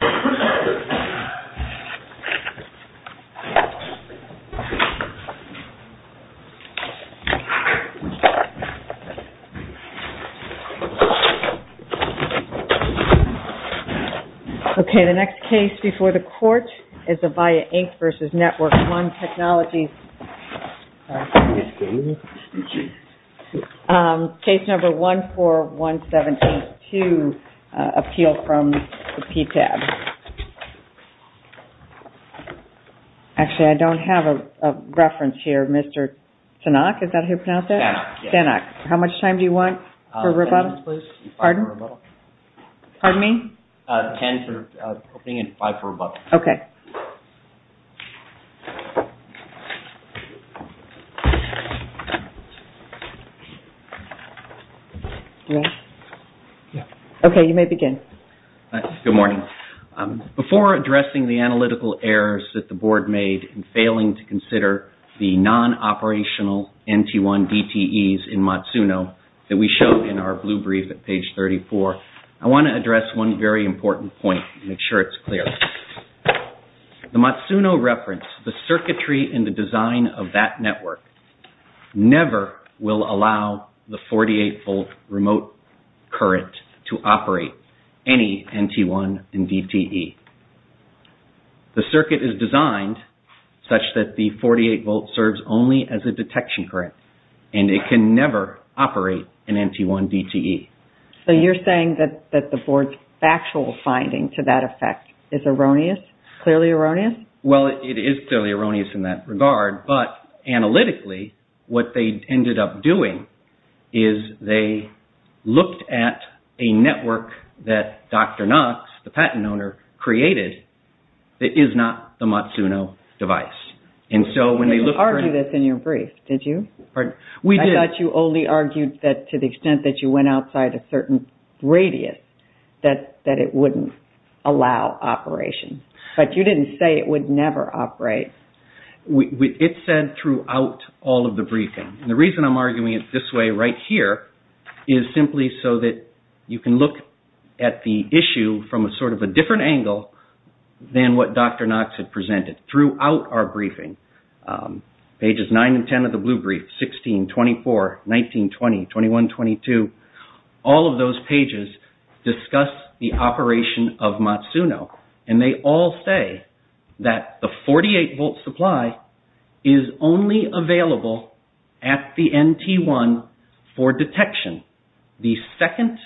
Okay, the next case before the court is Avaya Inc. v. Network-1 Technologies, Inc. Case number 14172, Appeal from the PTAB. Actually, I don't have a reference here. Mr. Tanak, is that how you pronounce it? Tanak, yes. How much time do you want for rebuttal? Ten minutes, please. Pardon? Five for rebuttal. Pardon me? Ten for opening and five for rebuttal. Okay. Okay, you may begin. Good morning. Before addressing the analytical errors that the Board made in failing to consider the non-operational NT1 DTEs in Matsuno that we showed in our blue brief at page 34, I want to address one very important point to make sure it's clear. The Matsuno reference, the circuitry and the design of that network, never will allow the 48-volt remote current to operate any NT1 DTE. The circuit is designed such that the 48-volt serves only as a detection current and it can never operate an NT1 DTE. So you're saying that the Board's finding to that effect is clearly erroneous? Well, it is clearly erroneous in that regard, but analytically what they ended up doing is they looked at a network that Dr. Knox, the patent owner, created that is not the Matsuno device. You didn't argue this in your brief, did you? I thought you only argued that to the extent that you went outside a certain radius, that it wouldn't allow operations. But you didn't say it would never operate. It said throughout all of the briefing. And the reason I'm arguing it this way right here is simply so that you can look at the issue from a sort of a different angle than what Dr. Knox had presented. Throughout our briefing, pages 9 and 10 of the blue brief, 16, 24, 19, 20, 21, 22, all of those pages discuss the operation of Matsuno. And they all say that the 48-volt supply is only available at the NT1 for detection. The second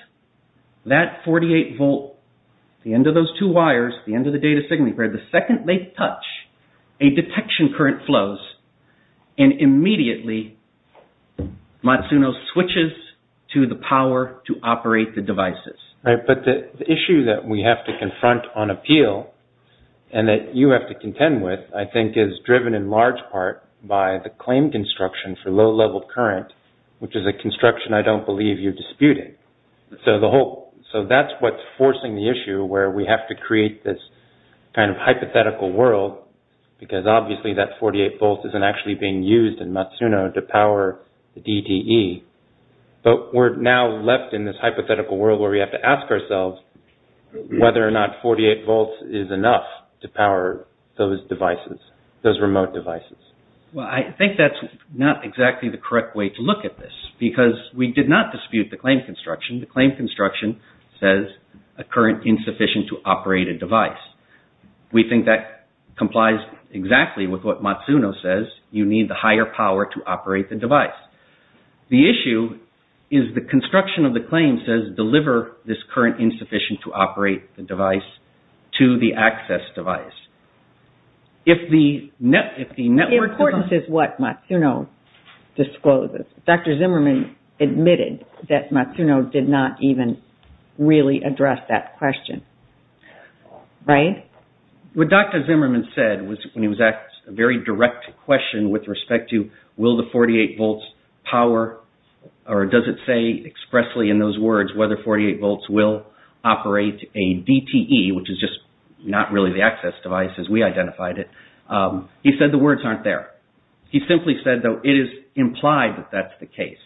that 48-volt, the end of those two wires, the end of the data signal, the second they touch, a detection current flows. And immediately, Matsuno switches to the power to operate the devices. But the issue that we have to confront on appeal and that you have to contend with, I think, is driven in large part by the claim construction for low-level current, which is a construction I don't believe you're disputing. So that's what's forcing the issue where we have to create this kind of hypothetical world because obviously that 48 volts isn't actually being used in Matsuno to power the DTE. But we're now left in this hypothetical world where we have to ask ourselves whether or not 48 volts is enough to power those devices, those remote devices. Well, I think that's not exactly the correct way to look at this because we did not dispute the claim construction. The claim construction says a current insufficient to operate a device. We think that complies exactly with what Matsuno says. You need the higher power to operate the device. The issue is the construction of the claim says deliver this current insufficient to operate the device to the access device. The importance is what Matsuno discloses. Dr. Zimmerman admitted that Matsuno did not even really address that question, right? What Dr. Zimmerman said was when he was asked a very direct question with respect to will the 48 volts power or does it say expressly in those words whether 48 volts will operate a DTE, which is just not really the access device as we identified it, he said the words aren't there. He simply said, though, it is implied that that's the case.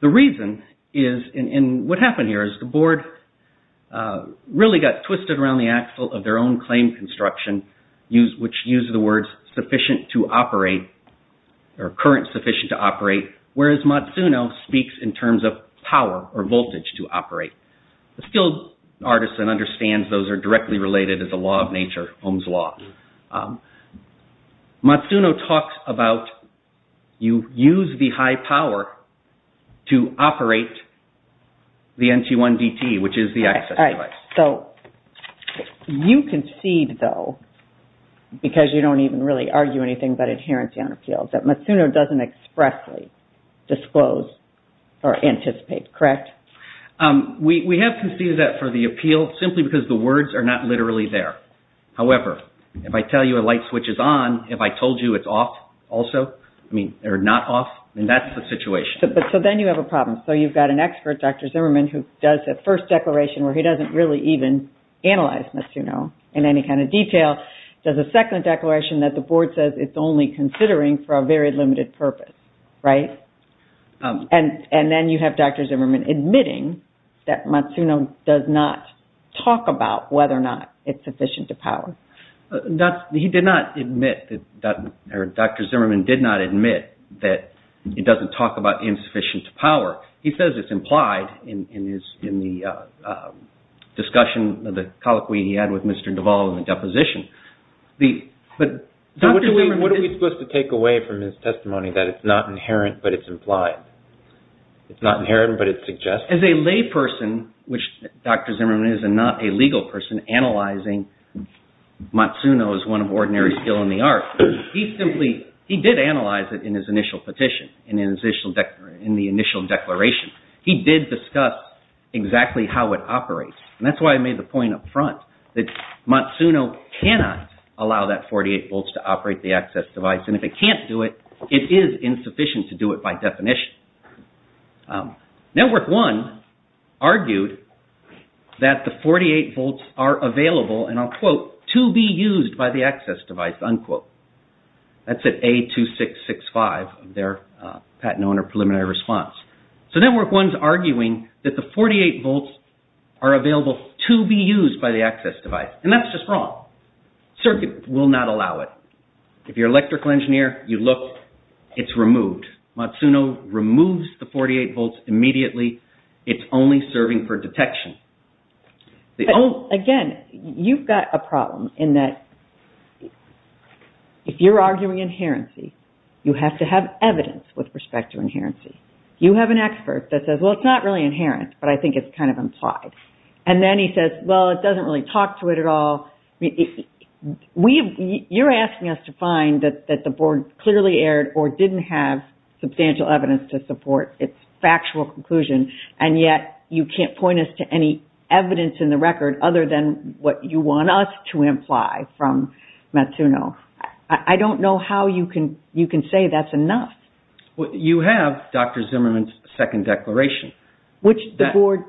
The reason is and what happened here is the board really got twisted around the axle of their own claim construction, which used the words sufficient to operate or current sufficient to operate, whereas Matsuno speaks in terms of power or voltage to operate. The skilled artisan understands those are directly related as a law of nature, Ohm's law. Matsuno talks about you use the high power to operate the NT1 DTE, which is the access device. So you concede, though, because you don't even really argue anything but adherency on appeals, that Matsuno doesn't expressly disclose or anticipate, correct? We have conceded that for the appeal simply because the words are not literally there. However, if I tell you a light switch is on, if I told you it's off also, I mean, they're not off and that's the situation. So then you have a problem. So you've got an expert, Dr. Zimmerman, who does the first declaration where he doesn't really even analyze Matsuno in any kind of detail, does a second declaration that the board says it's only considering for a very limited purpose, right? And then you have Dr. Zimmerman admitting that Matsuno does not talk about whether or not it's sufficient to power. He did not admit that Dr. Zimmerman did not admit that he doesn't talk about insufficient power. He says it's implied in the discussion of the colloquy he had with Mr. Duvall in the deposition. What are we supposed to take away from his testimony that it's not inherent, but it's implied? It's not inherent, but it's suggested? As a layperson, which Dr. Zimmerman is, and not a legal person analyzing Matsuno as one of ordinary skill in the art, he did analyze it in his initial petition and in the initial declaration. He did discuss exactly how it operates. And that's why I made the point up front that Matsuno cannot allow that 48 volts to operate the access device. And if it can't do it, it is insufficient to do it by definition. Network One argued that the 48 volts are available, and I'll quote, to be used by the access device, unquote. That's at A2665, their patent owner preliminary response. So Network One's arguing that the 48 volts are available to be used by the access device. And that's just wrong. Circuit will not allow it. If you're an electrical engineer, you look, it's removed. Matsuno removes the 48 volts immediately. It's only serving for detection. Again, you've got a problem in that if you're arguing inherency, you have to have evidence with respect to inherency. You have an expert that says, well, it's not really inherent, but I think it's kind of implied. And then he says, well, it doesn't really talk to it at all. You're asking us to find that the board clearly aired or didn't have substantial evidence to support its factual conclusion. And yet you can't point us to any evidence in the record other than what you want us to imply from Matsuno. I don't know how you can say that's enough. You have Dr. Zimmerman's second declaration. Which the board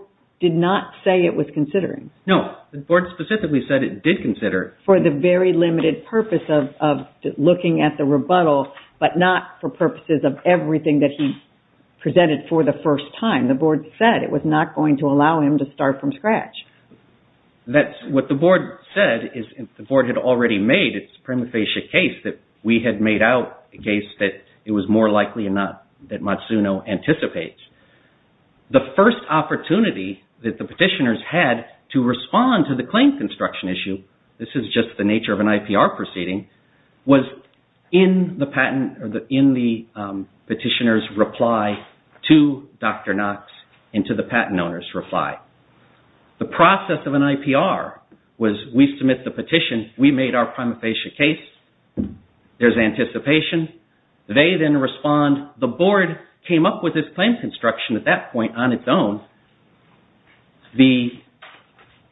did not say it was considering. No, the board specifically said it did consider. For the very limited purpose of looking at the rebuttal, but not for purposes of everything that he presented for the first time. The board said it was not going to allow him to start from scratch. What the board said is the board had already made its prima facie case that we had out against it. It was more likely than not that Matsuno anticipates. The first opportunity that the petitioners had to respond to the claim construction issue, this is just the nature of an IPR proceeding, was in the petitioner's reply to Dr. Knox and to the patent owner's reply. The process of an IPR was we submit the petition, we made our prima facie case, there's anticipation, they then respond. The board came up with this claim construction at that point on its own. The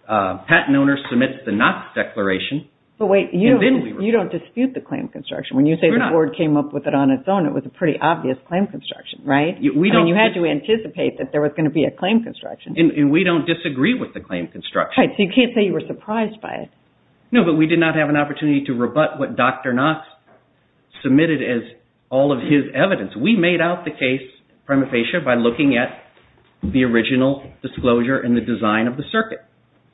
patent owner submits the Knox declaration. But wait, you don't dispute the claim construction. When you say the board came up with it on its own, it was a pretty obvious claim construction, right? You had to anticipate that there was going to be a claim construction. And we don't disagree with the claim construction. Right, so you can't say you were surprised by it. But we did not have an opportunity to rebut what Dr. Knox submitted as all of his evidence. We made out the case prima facie by looking at the original disclosure and the design of the circuit.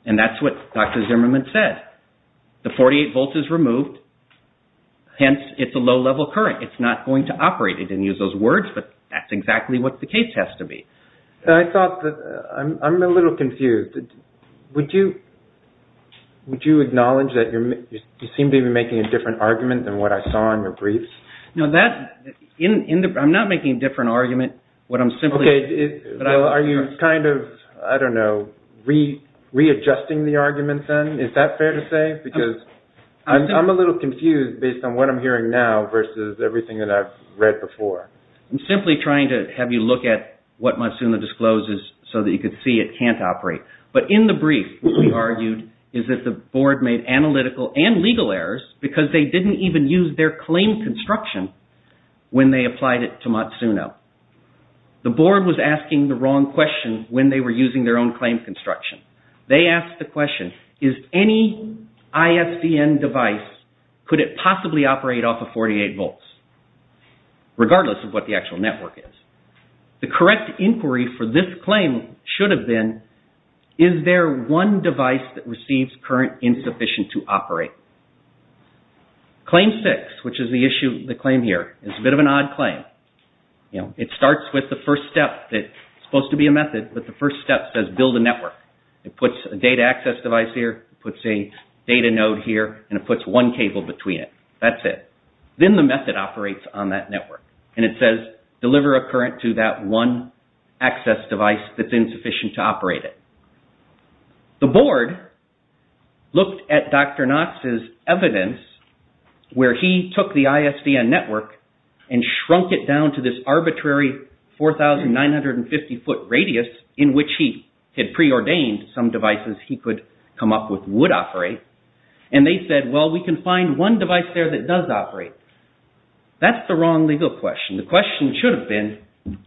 And that's what Dr. Zimmerman said. The 48 volts is removed, hence it's a low-level current. It's not going to operate. He didn't use those words, but that's exactly what the case has to be. I'm a little confused. Would you acknowledge that you seem to be making a different argument than what I saw in your briefs? I'm not making a different argument. Are you kind of, I don't know, readjusting the argument then? Is that fair to say? Because I'm a little confused based on what I'm hearing now versus everything that I've read before. I'm simply trying to have you look at what Matsuno discloses so that you can see it can't operate. But in the brief, what we argued is that the board made analytical and legal errors because they didn't even use their claim construction when they applied it to Matsuno. The board was asking the wrong question when they were using their own claim construction. They asked the actual network. The correct inquiry for this claim should have been, is there one device that receives current insufficient to operate? Claim six, which is the claim here, is a bit of an odd claim. It starts with the first step that's supposed to be a method, but the first step says build a network. It puts a data access device here, puts a data node here, and it puts one cable between it. That's it. Then the method operates on that network, and it says deliver a current to that one access device that's insufficient to operate it. The board looked at Dr. Knox's evidence where he took the ISDN network and shrunk it down to this arbitrary 4,950-foot radius in which he had preordained some devices he could come up with would operate, and they said, well, we can find one device there that does operate. That's the wrong legal question. The question should have been,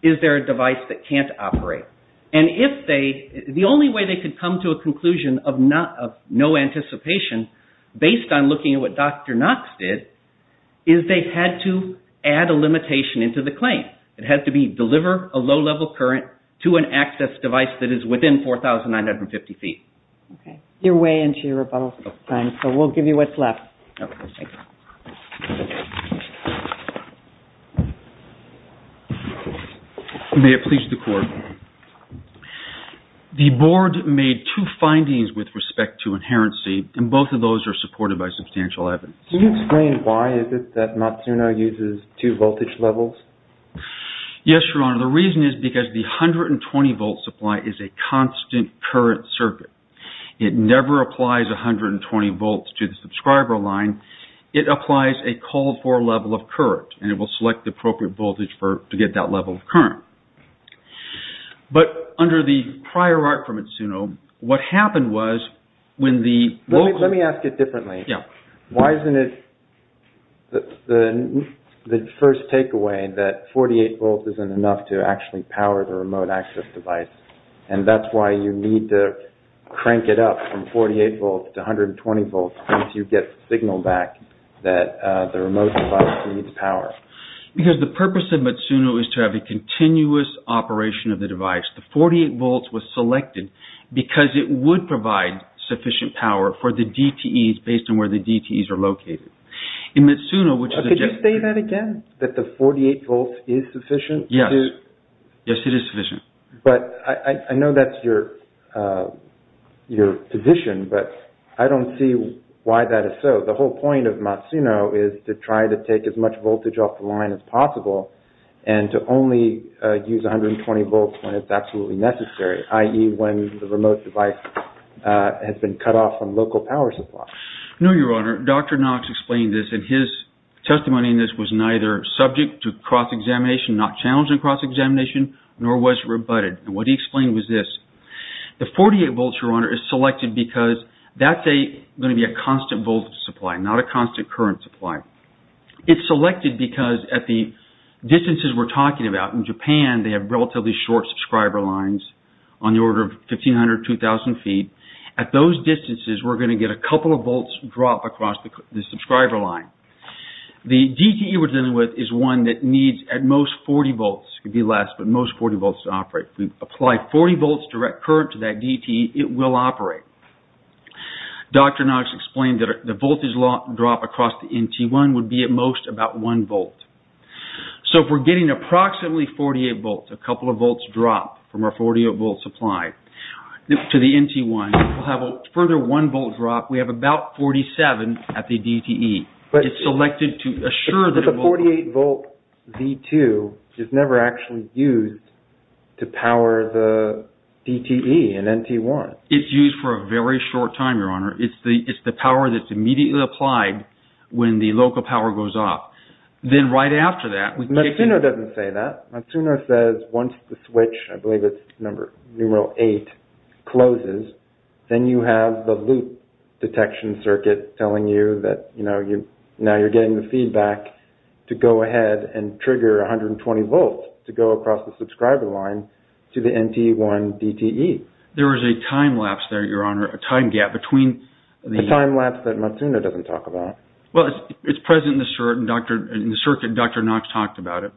is there a device that can't operate? The only way they could come to a conclusion of no anticipation based on looking at what Dr. Knox did is they had to add a limitation into the claim. It had to be deliver a low-level current to an access device that is within 4,950 feet. Okay. You're way into your rebuttal time, so we'll give you what's left. May it please the court. The board made two findings with respect to inherency, and both of those are supported by substantial evidence. Can you explain why is it that Matsuno uses two voltage levels? Yes, Your Honor. The reason is because the 120-volt supply is a constant current circuit. It never applies 120 volts to the subscriber line. It applies a call-for level of current, and it will select the appropriate voltage to get that level of current. But under the prior art from Matsuno, what happened was when the... Let me ask it differently. Why isn't it the first takeaway that 48 volts isn't enough to actually power the remote access device, and that's why you need to crank it up from 48 volts to 120 volts once you get the signal back that the remote device needs power? Because the purpose of Matsuno is to have a continuous operation of the device. The 48 volts was selected because it would provide sufficient power for the DTEs based on where the DTEs are located. In Matsuno, which is... Could you say that again, that the 48 volts is sufficient? Yes. Yes, it is sufficient. But I know that's your position, but I don't see why that is so. The whole point of Matsuno is to try to take as much voltage off the line as possible, and to only use 120 volts when it's absolutely necessary, i.e. when the remote device has been on local power supply. No, Your Honor. Dr. Knox explained this, and his testimony in this was neither subject to cross-examination, not challenged in cross-examination, nor was rebutted. And what he explained was this. The 48 volts, Your Honor, is selected because that's going to be a constant voltage supply, not a constant current supply. It's selected because at the distances we're talking about, in Japan, they have relatively short subscriber lines on the order of 1,500, 2,000 feet. At those distances, we're going to get a couple of volts drop across the subscriber line. The DTE we're dealing with is one that needs at most 40 volts. It could be less, but most 40 volts to operate. If we apply 40 volts direct current to that DTE, it will operate. Dr. Knox explained that the voltage drop across the NT1 would be at most about 1 volt. So if we're getting approximately 48 volts, a couple of volts drop from our 48 volts supply to the NT1, we'll have a further 1 volt drop. We have about 47 at the DTE. It's selected to assure that... But the 48 volt V2 is never actually used to power the DTE and NT1. It's used for a very short time, Your Honor. It's the power that's immediately applied when the local power goes off. Then right after that... Matsuno doesn't say that. Matsuno says once the switch, I believe it's number, numeral eight, closes, then you have the loop detection circuit telling you that, you know, now you're getting the feedback to go ahead and trigger 120 volts to go across the subscriber line to the NT1 DTE. There is a time lapse there, Your Honor, a time gap between... Time lapse that Matsuno doesn't talk about. Well, it's present in the circuit. Dr. Knox talked about it.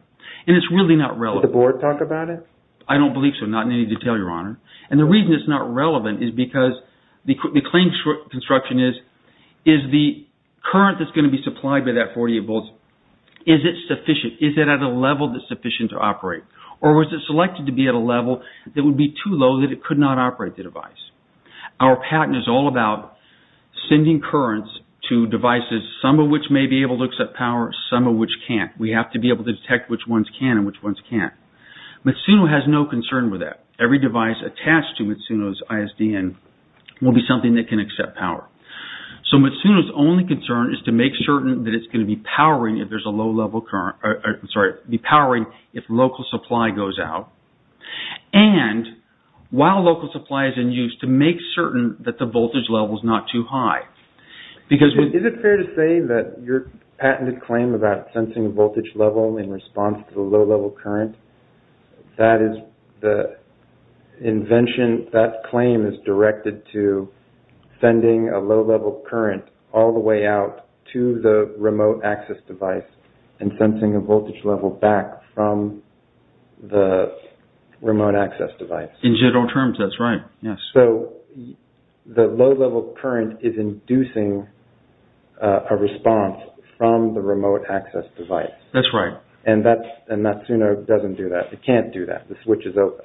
And it's really not relevant. Did the board talk about it? I don't believe so, not in any detail, Your Honor. And the reason it's not relevant is because the claim construction is, is the current that's going to be supplied by that 48 volts, is it sufficient? Is it at a level that's sufficient to operate? Or was it selected to be at a level that would be too low that it to devices, some of which may be able to accept power, some of which can't. We have to be able to detect which ones can and which ones can't. Matsuno has no concern with that. Every device attached to Matsuno's ISDN will be something that can accept power. So Matsuno's only concern is to make certain that it's going to be powering if there's a low level current... I'm sorry, be powering if local supply goes out. And while local supply is in use to make certain that the because... Is it fair to say that your patented claim about sensing a voltage level in response to the low level current, that is the invention, that claim is directed to sending a low level current all the way out to the remote access device and sensing a voltage level back from the remote access device? In general terms, that's right. Yes. So the low level current is inducing a response from the remote access device. That's right. And Matsuno doesn't do that. It can't do that. The switch is open.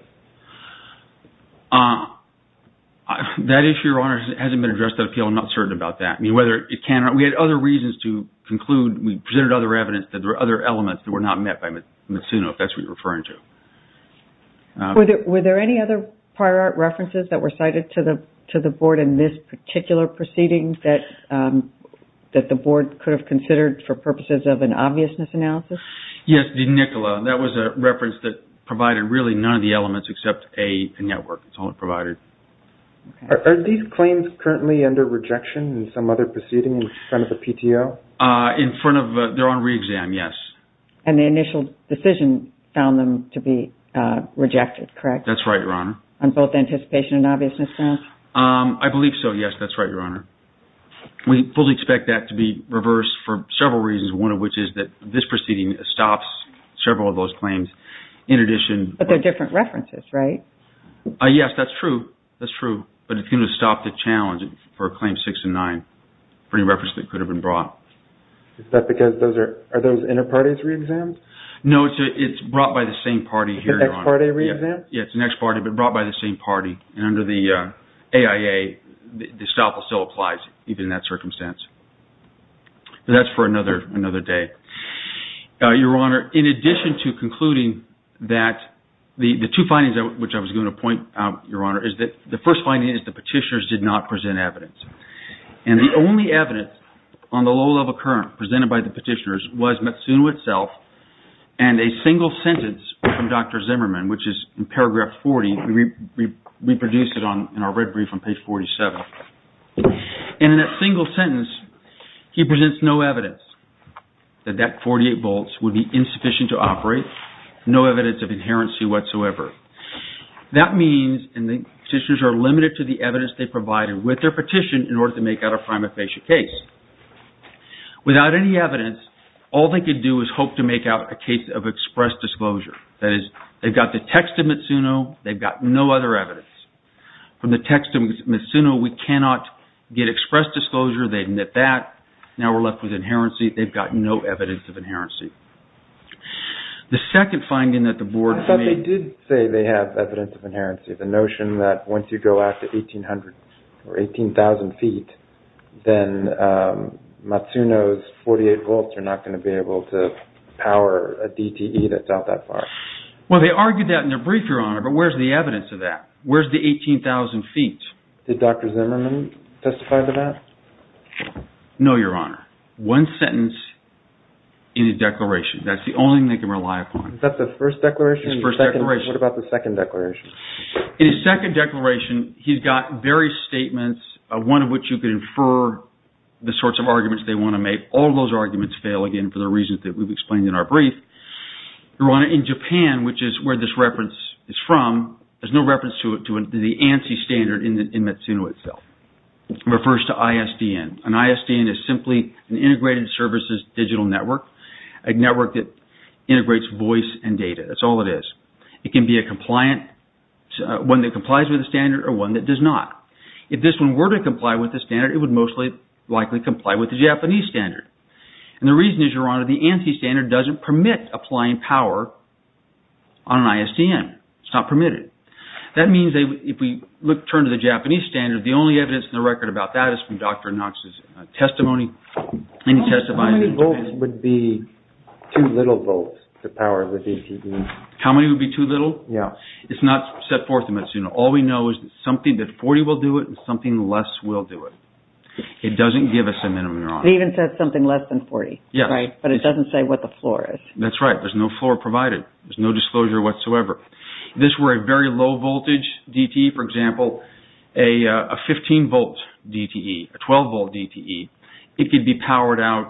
That issue, Your Honor, hasn't been addressed at appeal. I'm not certain about that. We had other reasons to conclude. We presented other evidence that there were other elements that were not met by Matsuno, if that's what you're referring to. Were there any other prior art references that were cited to the board in this particular proceeding that the board could have considered for purposes of an obviousness analysis? Yes, the NICOLA. That was a reference that provided really none of the elements except a network. That's all it provided. Are these claims currently under rejection in some other proceeding in front of the PTO? In front of... They're on re-exam, yes. And the initial decision found them to be rejected, correct? That's right, Your Honor. On both anticipation and obviousness counts? I believe so, yes. That's right, Your Honor. We fully expect that to be reversed for several reasons, one of which is that this proceeding stops several of those claims. In addition... But they're different references, right? Yes, that's true. That's true. But it's going to stop the challenge for Claim 6 and 9, for any reference that could have been brought. Is that because those are... Are those inter-parties re-exams? No, it's brought by the same party here, Your Honor. It's an ex-party re-exam? Yes, it's an ex-party, but brought by the same party. And under the AIA, the stop will still apply even in that circumstance. That's for another day. Your Honor, in addition to concluding that the two findings which I was going to point out, Your Honor, is that the first finding is the petitioners did not present evidence. And the only evidence on the low-level current presented by the petitioners was Matsuno itself and a single sentence from Dr. Zimmerman, which is in paragraph 40. We produced it in our red brief on page 47. And in that single sentence, he presents no evidence that that 48 volts would be insufficient to operate, no evidence of inherency whatsoever. That means, and the petition in order to make out a prima facie case. Without any evidence, all they could do is hope to make out a case of express disclosure. That is, they've got the text of Matsuno, they've got no other evidence. From the text of Matsuno, we cannot get express disclosure, they admit that. Now we're left with inherency. They've got no evidence of inherency. The second finding that the board... I thought they did say they have evidence of inherency. The notion that once you go out to 1800 or 18,000 feet, then Matsuno's 48 volts are not going to be able to power a DTE that's out that far. Well, they argued that in their brief, Your Honor, but where's the evidence of that? Where's the 18,000 feet? Did Dr. Zimmerman testify to that? No, Your Honor. One sentence in the declaration. That's the only thing they In his second declaration, he's got various statements, one of which you could infer the sorts of arguments they want to make. All those arguments fail again for the reasons that we've explained in our brief. Your Honor, in Japan, which is where this reference is from, there's no reference to the ANSI standard in Matsuno itself. It refers to ISDN. An ISDN is simply an integrated services digital network, a network that integrates voice and data. That's all it is. It can be one that complies with the standard or one that does not. If this one were to comply with the standard, it would most likely comply with the Japanese standard. The reason is, Your Honor, the ANSI standard doesn't permit applying power on an ISDN. It's not permitted. That means if we turn to the Japanese standard, the only evidence in the record about that is Dr. Knox's testimony. How many volts would be too little volts to power the DTE? How many would be too little? Yeah. It's not set forth in Matsuno. All we know is that something that 40 will do it and something less will do it. It doesn't give us a minimum. It even says something less than 40, but it doesn't say what the floor is. That's right. There's no floor provided. There's no disclosure whatsoever. If this were a very low voltage DTE, for example, a 15-volt DTE, a 12-volt DTE, it could be powered out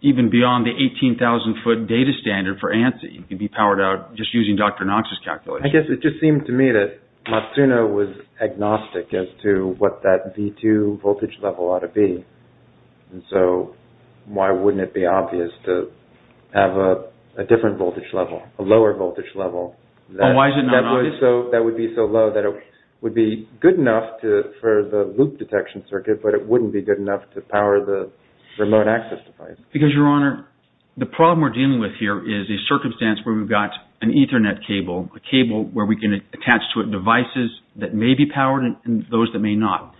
even beyond the 18,000-foot data standard for ANSI. It could be powered out just using Dr. Knox's calculation. I guess it just seemed to me that Matsuno was agnostic as to what that V2 voltage level ought to be. Why wouldn't it be obvious to have a different voltage level, a lower voltage level? Why is it not obvious? That would be so low that it would be good enough for the loop detection circuit, but it wouldn't be good enough to power the remote access device. Because, Your Honor, the problem we're dealing with here is a circumstance where we've got an Ethernet cable, a cable where we can attach to it devices that may be powered and those that may not.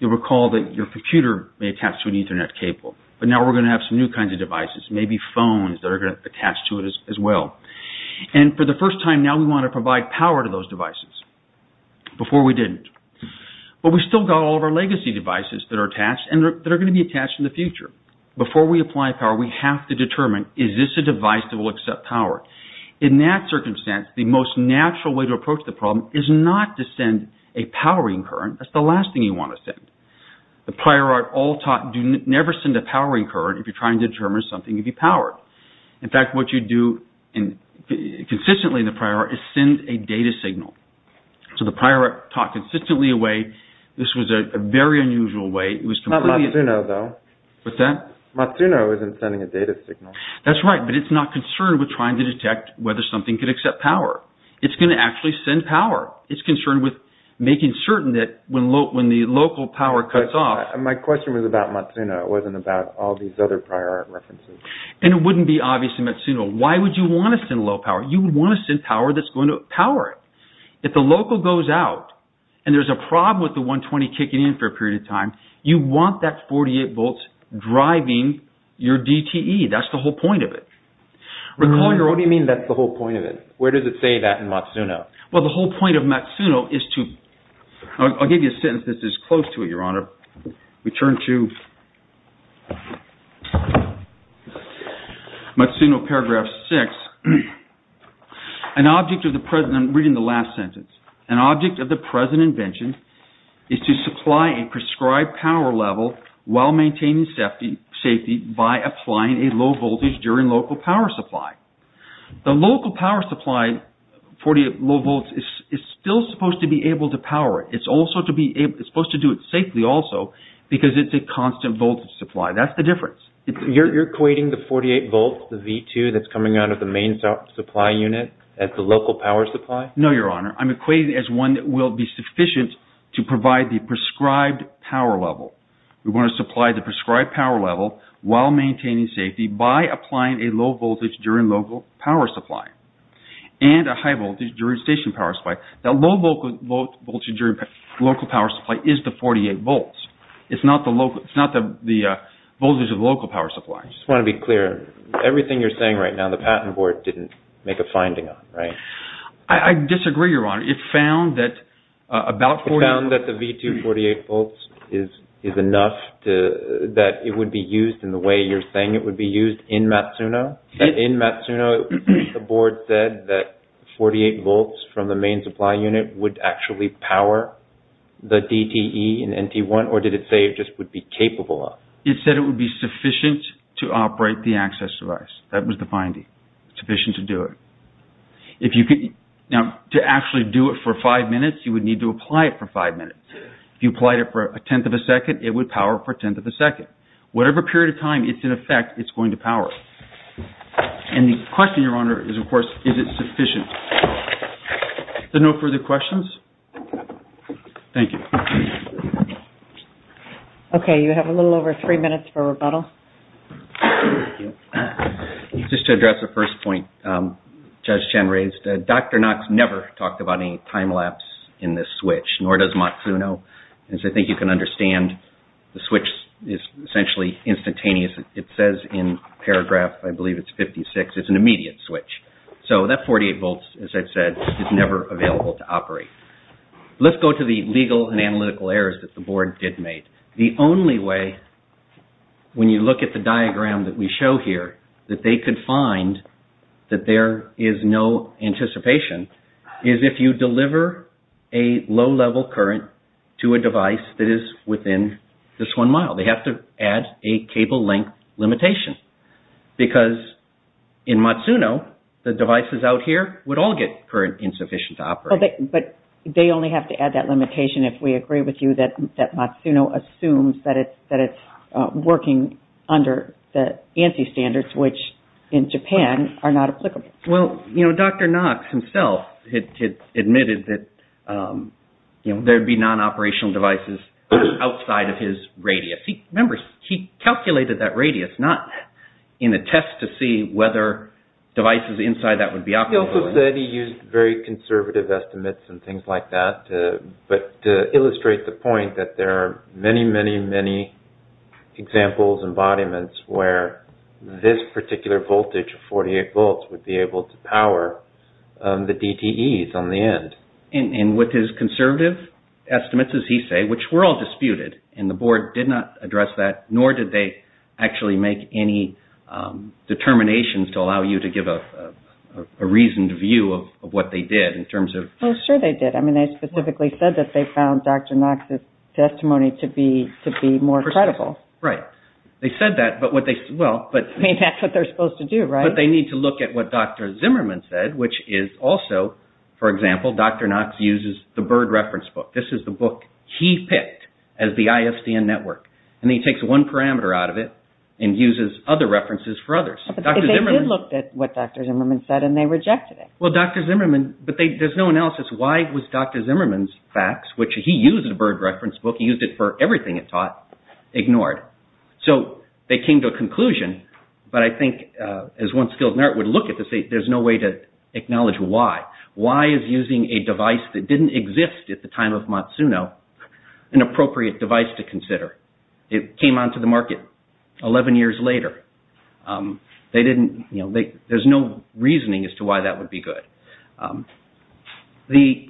You'll recall that your computer may attach to an Ethernet cable, but now we're going to have some new kinds of devices, maybe phones that are going to attach to it as well. For the first time, now we want to provide power to those devices. Before we didn't. But we've still got all of our legacy devices that are attached and that are going to be attached in the future. Before we apply power, we have to determine, is this a device that will accept power? In that circumstance, the most natural way to approach the problem is not to send a powering current. That's the last thing you want to send. The prior art all taught, never send a powering current if you're trying to send a data signal. So, the prior art taught consistently a way. This was a very unusual way. It was completely... Not Matsuno though. What's that? Matsuno isn't sending a data signal. That's right, but it's not concerned with trying to detect whether something could accept power. It's going to actually send power. It's concerned with making certain that when the local power cuts off... My question was about Matsuno. It wasn't about all these other prior art references. And it wouldn't be obviously Matsuno. Why would you want to send low power? You would want to send power that's going to power it. If the local goes out and there's a problem with the 120 kicking in for a period of time, you want that 48 volts driving your DTE. That's the whole point of it. Recall your... What do you mean that's the whole point of it? Where does it say that in Matsuno? Well, the whole point of Matsuno is to... I'll give you a sentence that's close to it, Your Honor. Return to Matsuno, paragraph 6. An object of the present... I'm reading the last sentence. An object of the present invention is to supply a prescribed power level while maintaining safety by applying a low voltage during local power supply. The local power supply, 48 low volts, is still supposed to be able to power it. It's supposed to do it safely also because it's a constant voltage supply. That's the difference. You're equating the 48 volts, the V2, that's coming out of the main supply unit as the local power supply? No, Your Honor. I'm equating it as one that will be sufficient to provide the prescribed power level. We want to supply the prescribed power level while maintaining safety by applying a low voltage during local power supply and a high voltage during station power supply. That low voltage during local power supply is the 48 volts. It's not the voltage of the local power supply. I just want to be clear. Everything you're saying right now, the Patent Board didn't make a finding on, right? I disagree, Your Honor. It found that about... It found that the V2, 48 volts is enough that it would be used in the way you're saying it would actually power the DTE and NT1, or did it say it just would be capable of? It said it would be sufficient to operate the access device. That was the finding. Sufficient to do it. Now, to actually do it for five minutes, you would need to apply it for five minutes. If you applied it for a tenth of a second, it would power for a tenth of a second. Whatever period of time it's in effect, it's going to power. And the question, Your Honor, is, of course, is it sufficient? Is there no further questions? Thank you. Okay. You have a little over three minutes for rebuttal. Just to address the first point Judge Chen raised, Dr. Knox never talked about any time lapse in this switch, nor does Matsuno. As I think you can understand, the switch is essentially instantaneous. It says in paragraph, I believe it's 56, it's an immediate switch. So that 48 volts, as I've said, is never available to operate. Let's go to the legal and analytical errors that the board did make. The only way, when you look at the diagram that we show here, that they could find that there is no anticipation, is if you deliver a low-level current to a device that is within this one mile. They have to add a cable length limitation. Because in Matsuno, the devices out here would all get current insufficient to operate. But they only have to add that limitation if we agree with you that Matsuno assumes that it's working under the ANSI standards, which in Japan are not applicable. Well, Dr. Knox himself admitted that there'd be non-operational devices outside of his radius. Remember, he calculated that radius, not in a test to see whether devices inside that would be operable. He also said he used very conservative estimates and things like that to illustrate the point that there are many, many, many examples, embodiments, where this particular voltage, 48 volts, would be able to power the DTEs on the end. And with his conservative estimates, as he said, which were all disputed, and the board did not address that, nor did they actually make any determinations to allow you to give a reasoned view of what they did in terms of... Well, sure they did. I mean, they specifically said that they found Dr. Knox's testimony to be more credible. Right. They said that, but what they... Well, but... I mean, that's what they're supposed to do, right? But they need to look at what Dr. Zimmerman said, which is also, for example, Dr. Knox uses the bird reference book. This is the book he picked as the ISDN network, and he takes one parameter out of it and uses other references for others. But they did look at what Dr. Zimmerman said, and they rejected it. Well, Dr. Zimmerman... But there's no analysis why it was Dr. Zimmerman's facts, which he used the bird reference book, he used it for everything it taught, ignored. So they came to a conclusion, but I think, as one skilled nurse would look at this, there's no way to acknowledge why. Why is using a device that didn't exist at the time of Matsuno an appropriate device to consider? It came onto the market 11 years later. They didn't, you know, there's no reasoning as to why that would be good. The,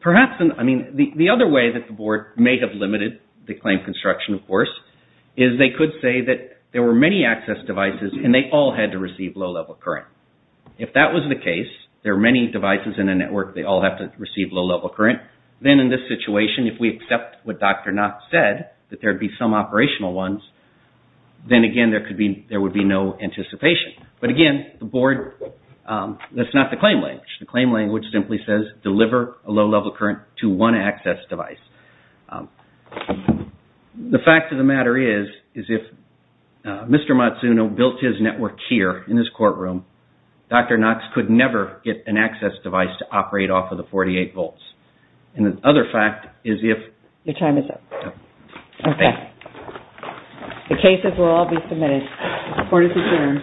perhaps, I mean, the other way that the board may have limited the claim construction, of course, is they could say that there were many access devices and they all had to receive low-level current. If that was the case, there are many devices in the network, they all have to receive low-level current, then in this situation, if we accept what Dr. Knox said, that there'd be some operational ones, then again, there would be no anticipation. But again, the board, that's not the claim language. The claim language simply says, deliver a low-level current to one access device. The fact of the matter is, is if Mr. Matsuno built his network here in his courtroom, Dr. Knox could never get an access device to operate off of the 48 volts. And the other fact is if... Your time is up. Okay, the cases will all be submitted. The court is adjourned.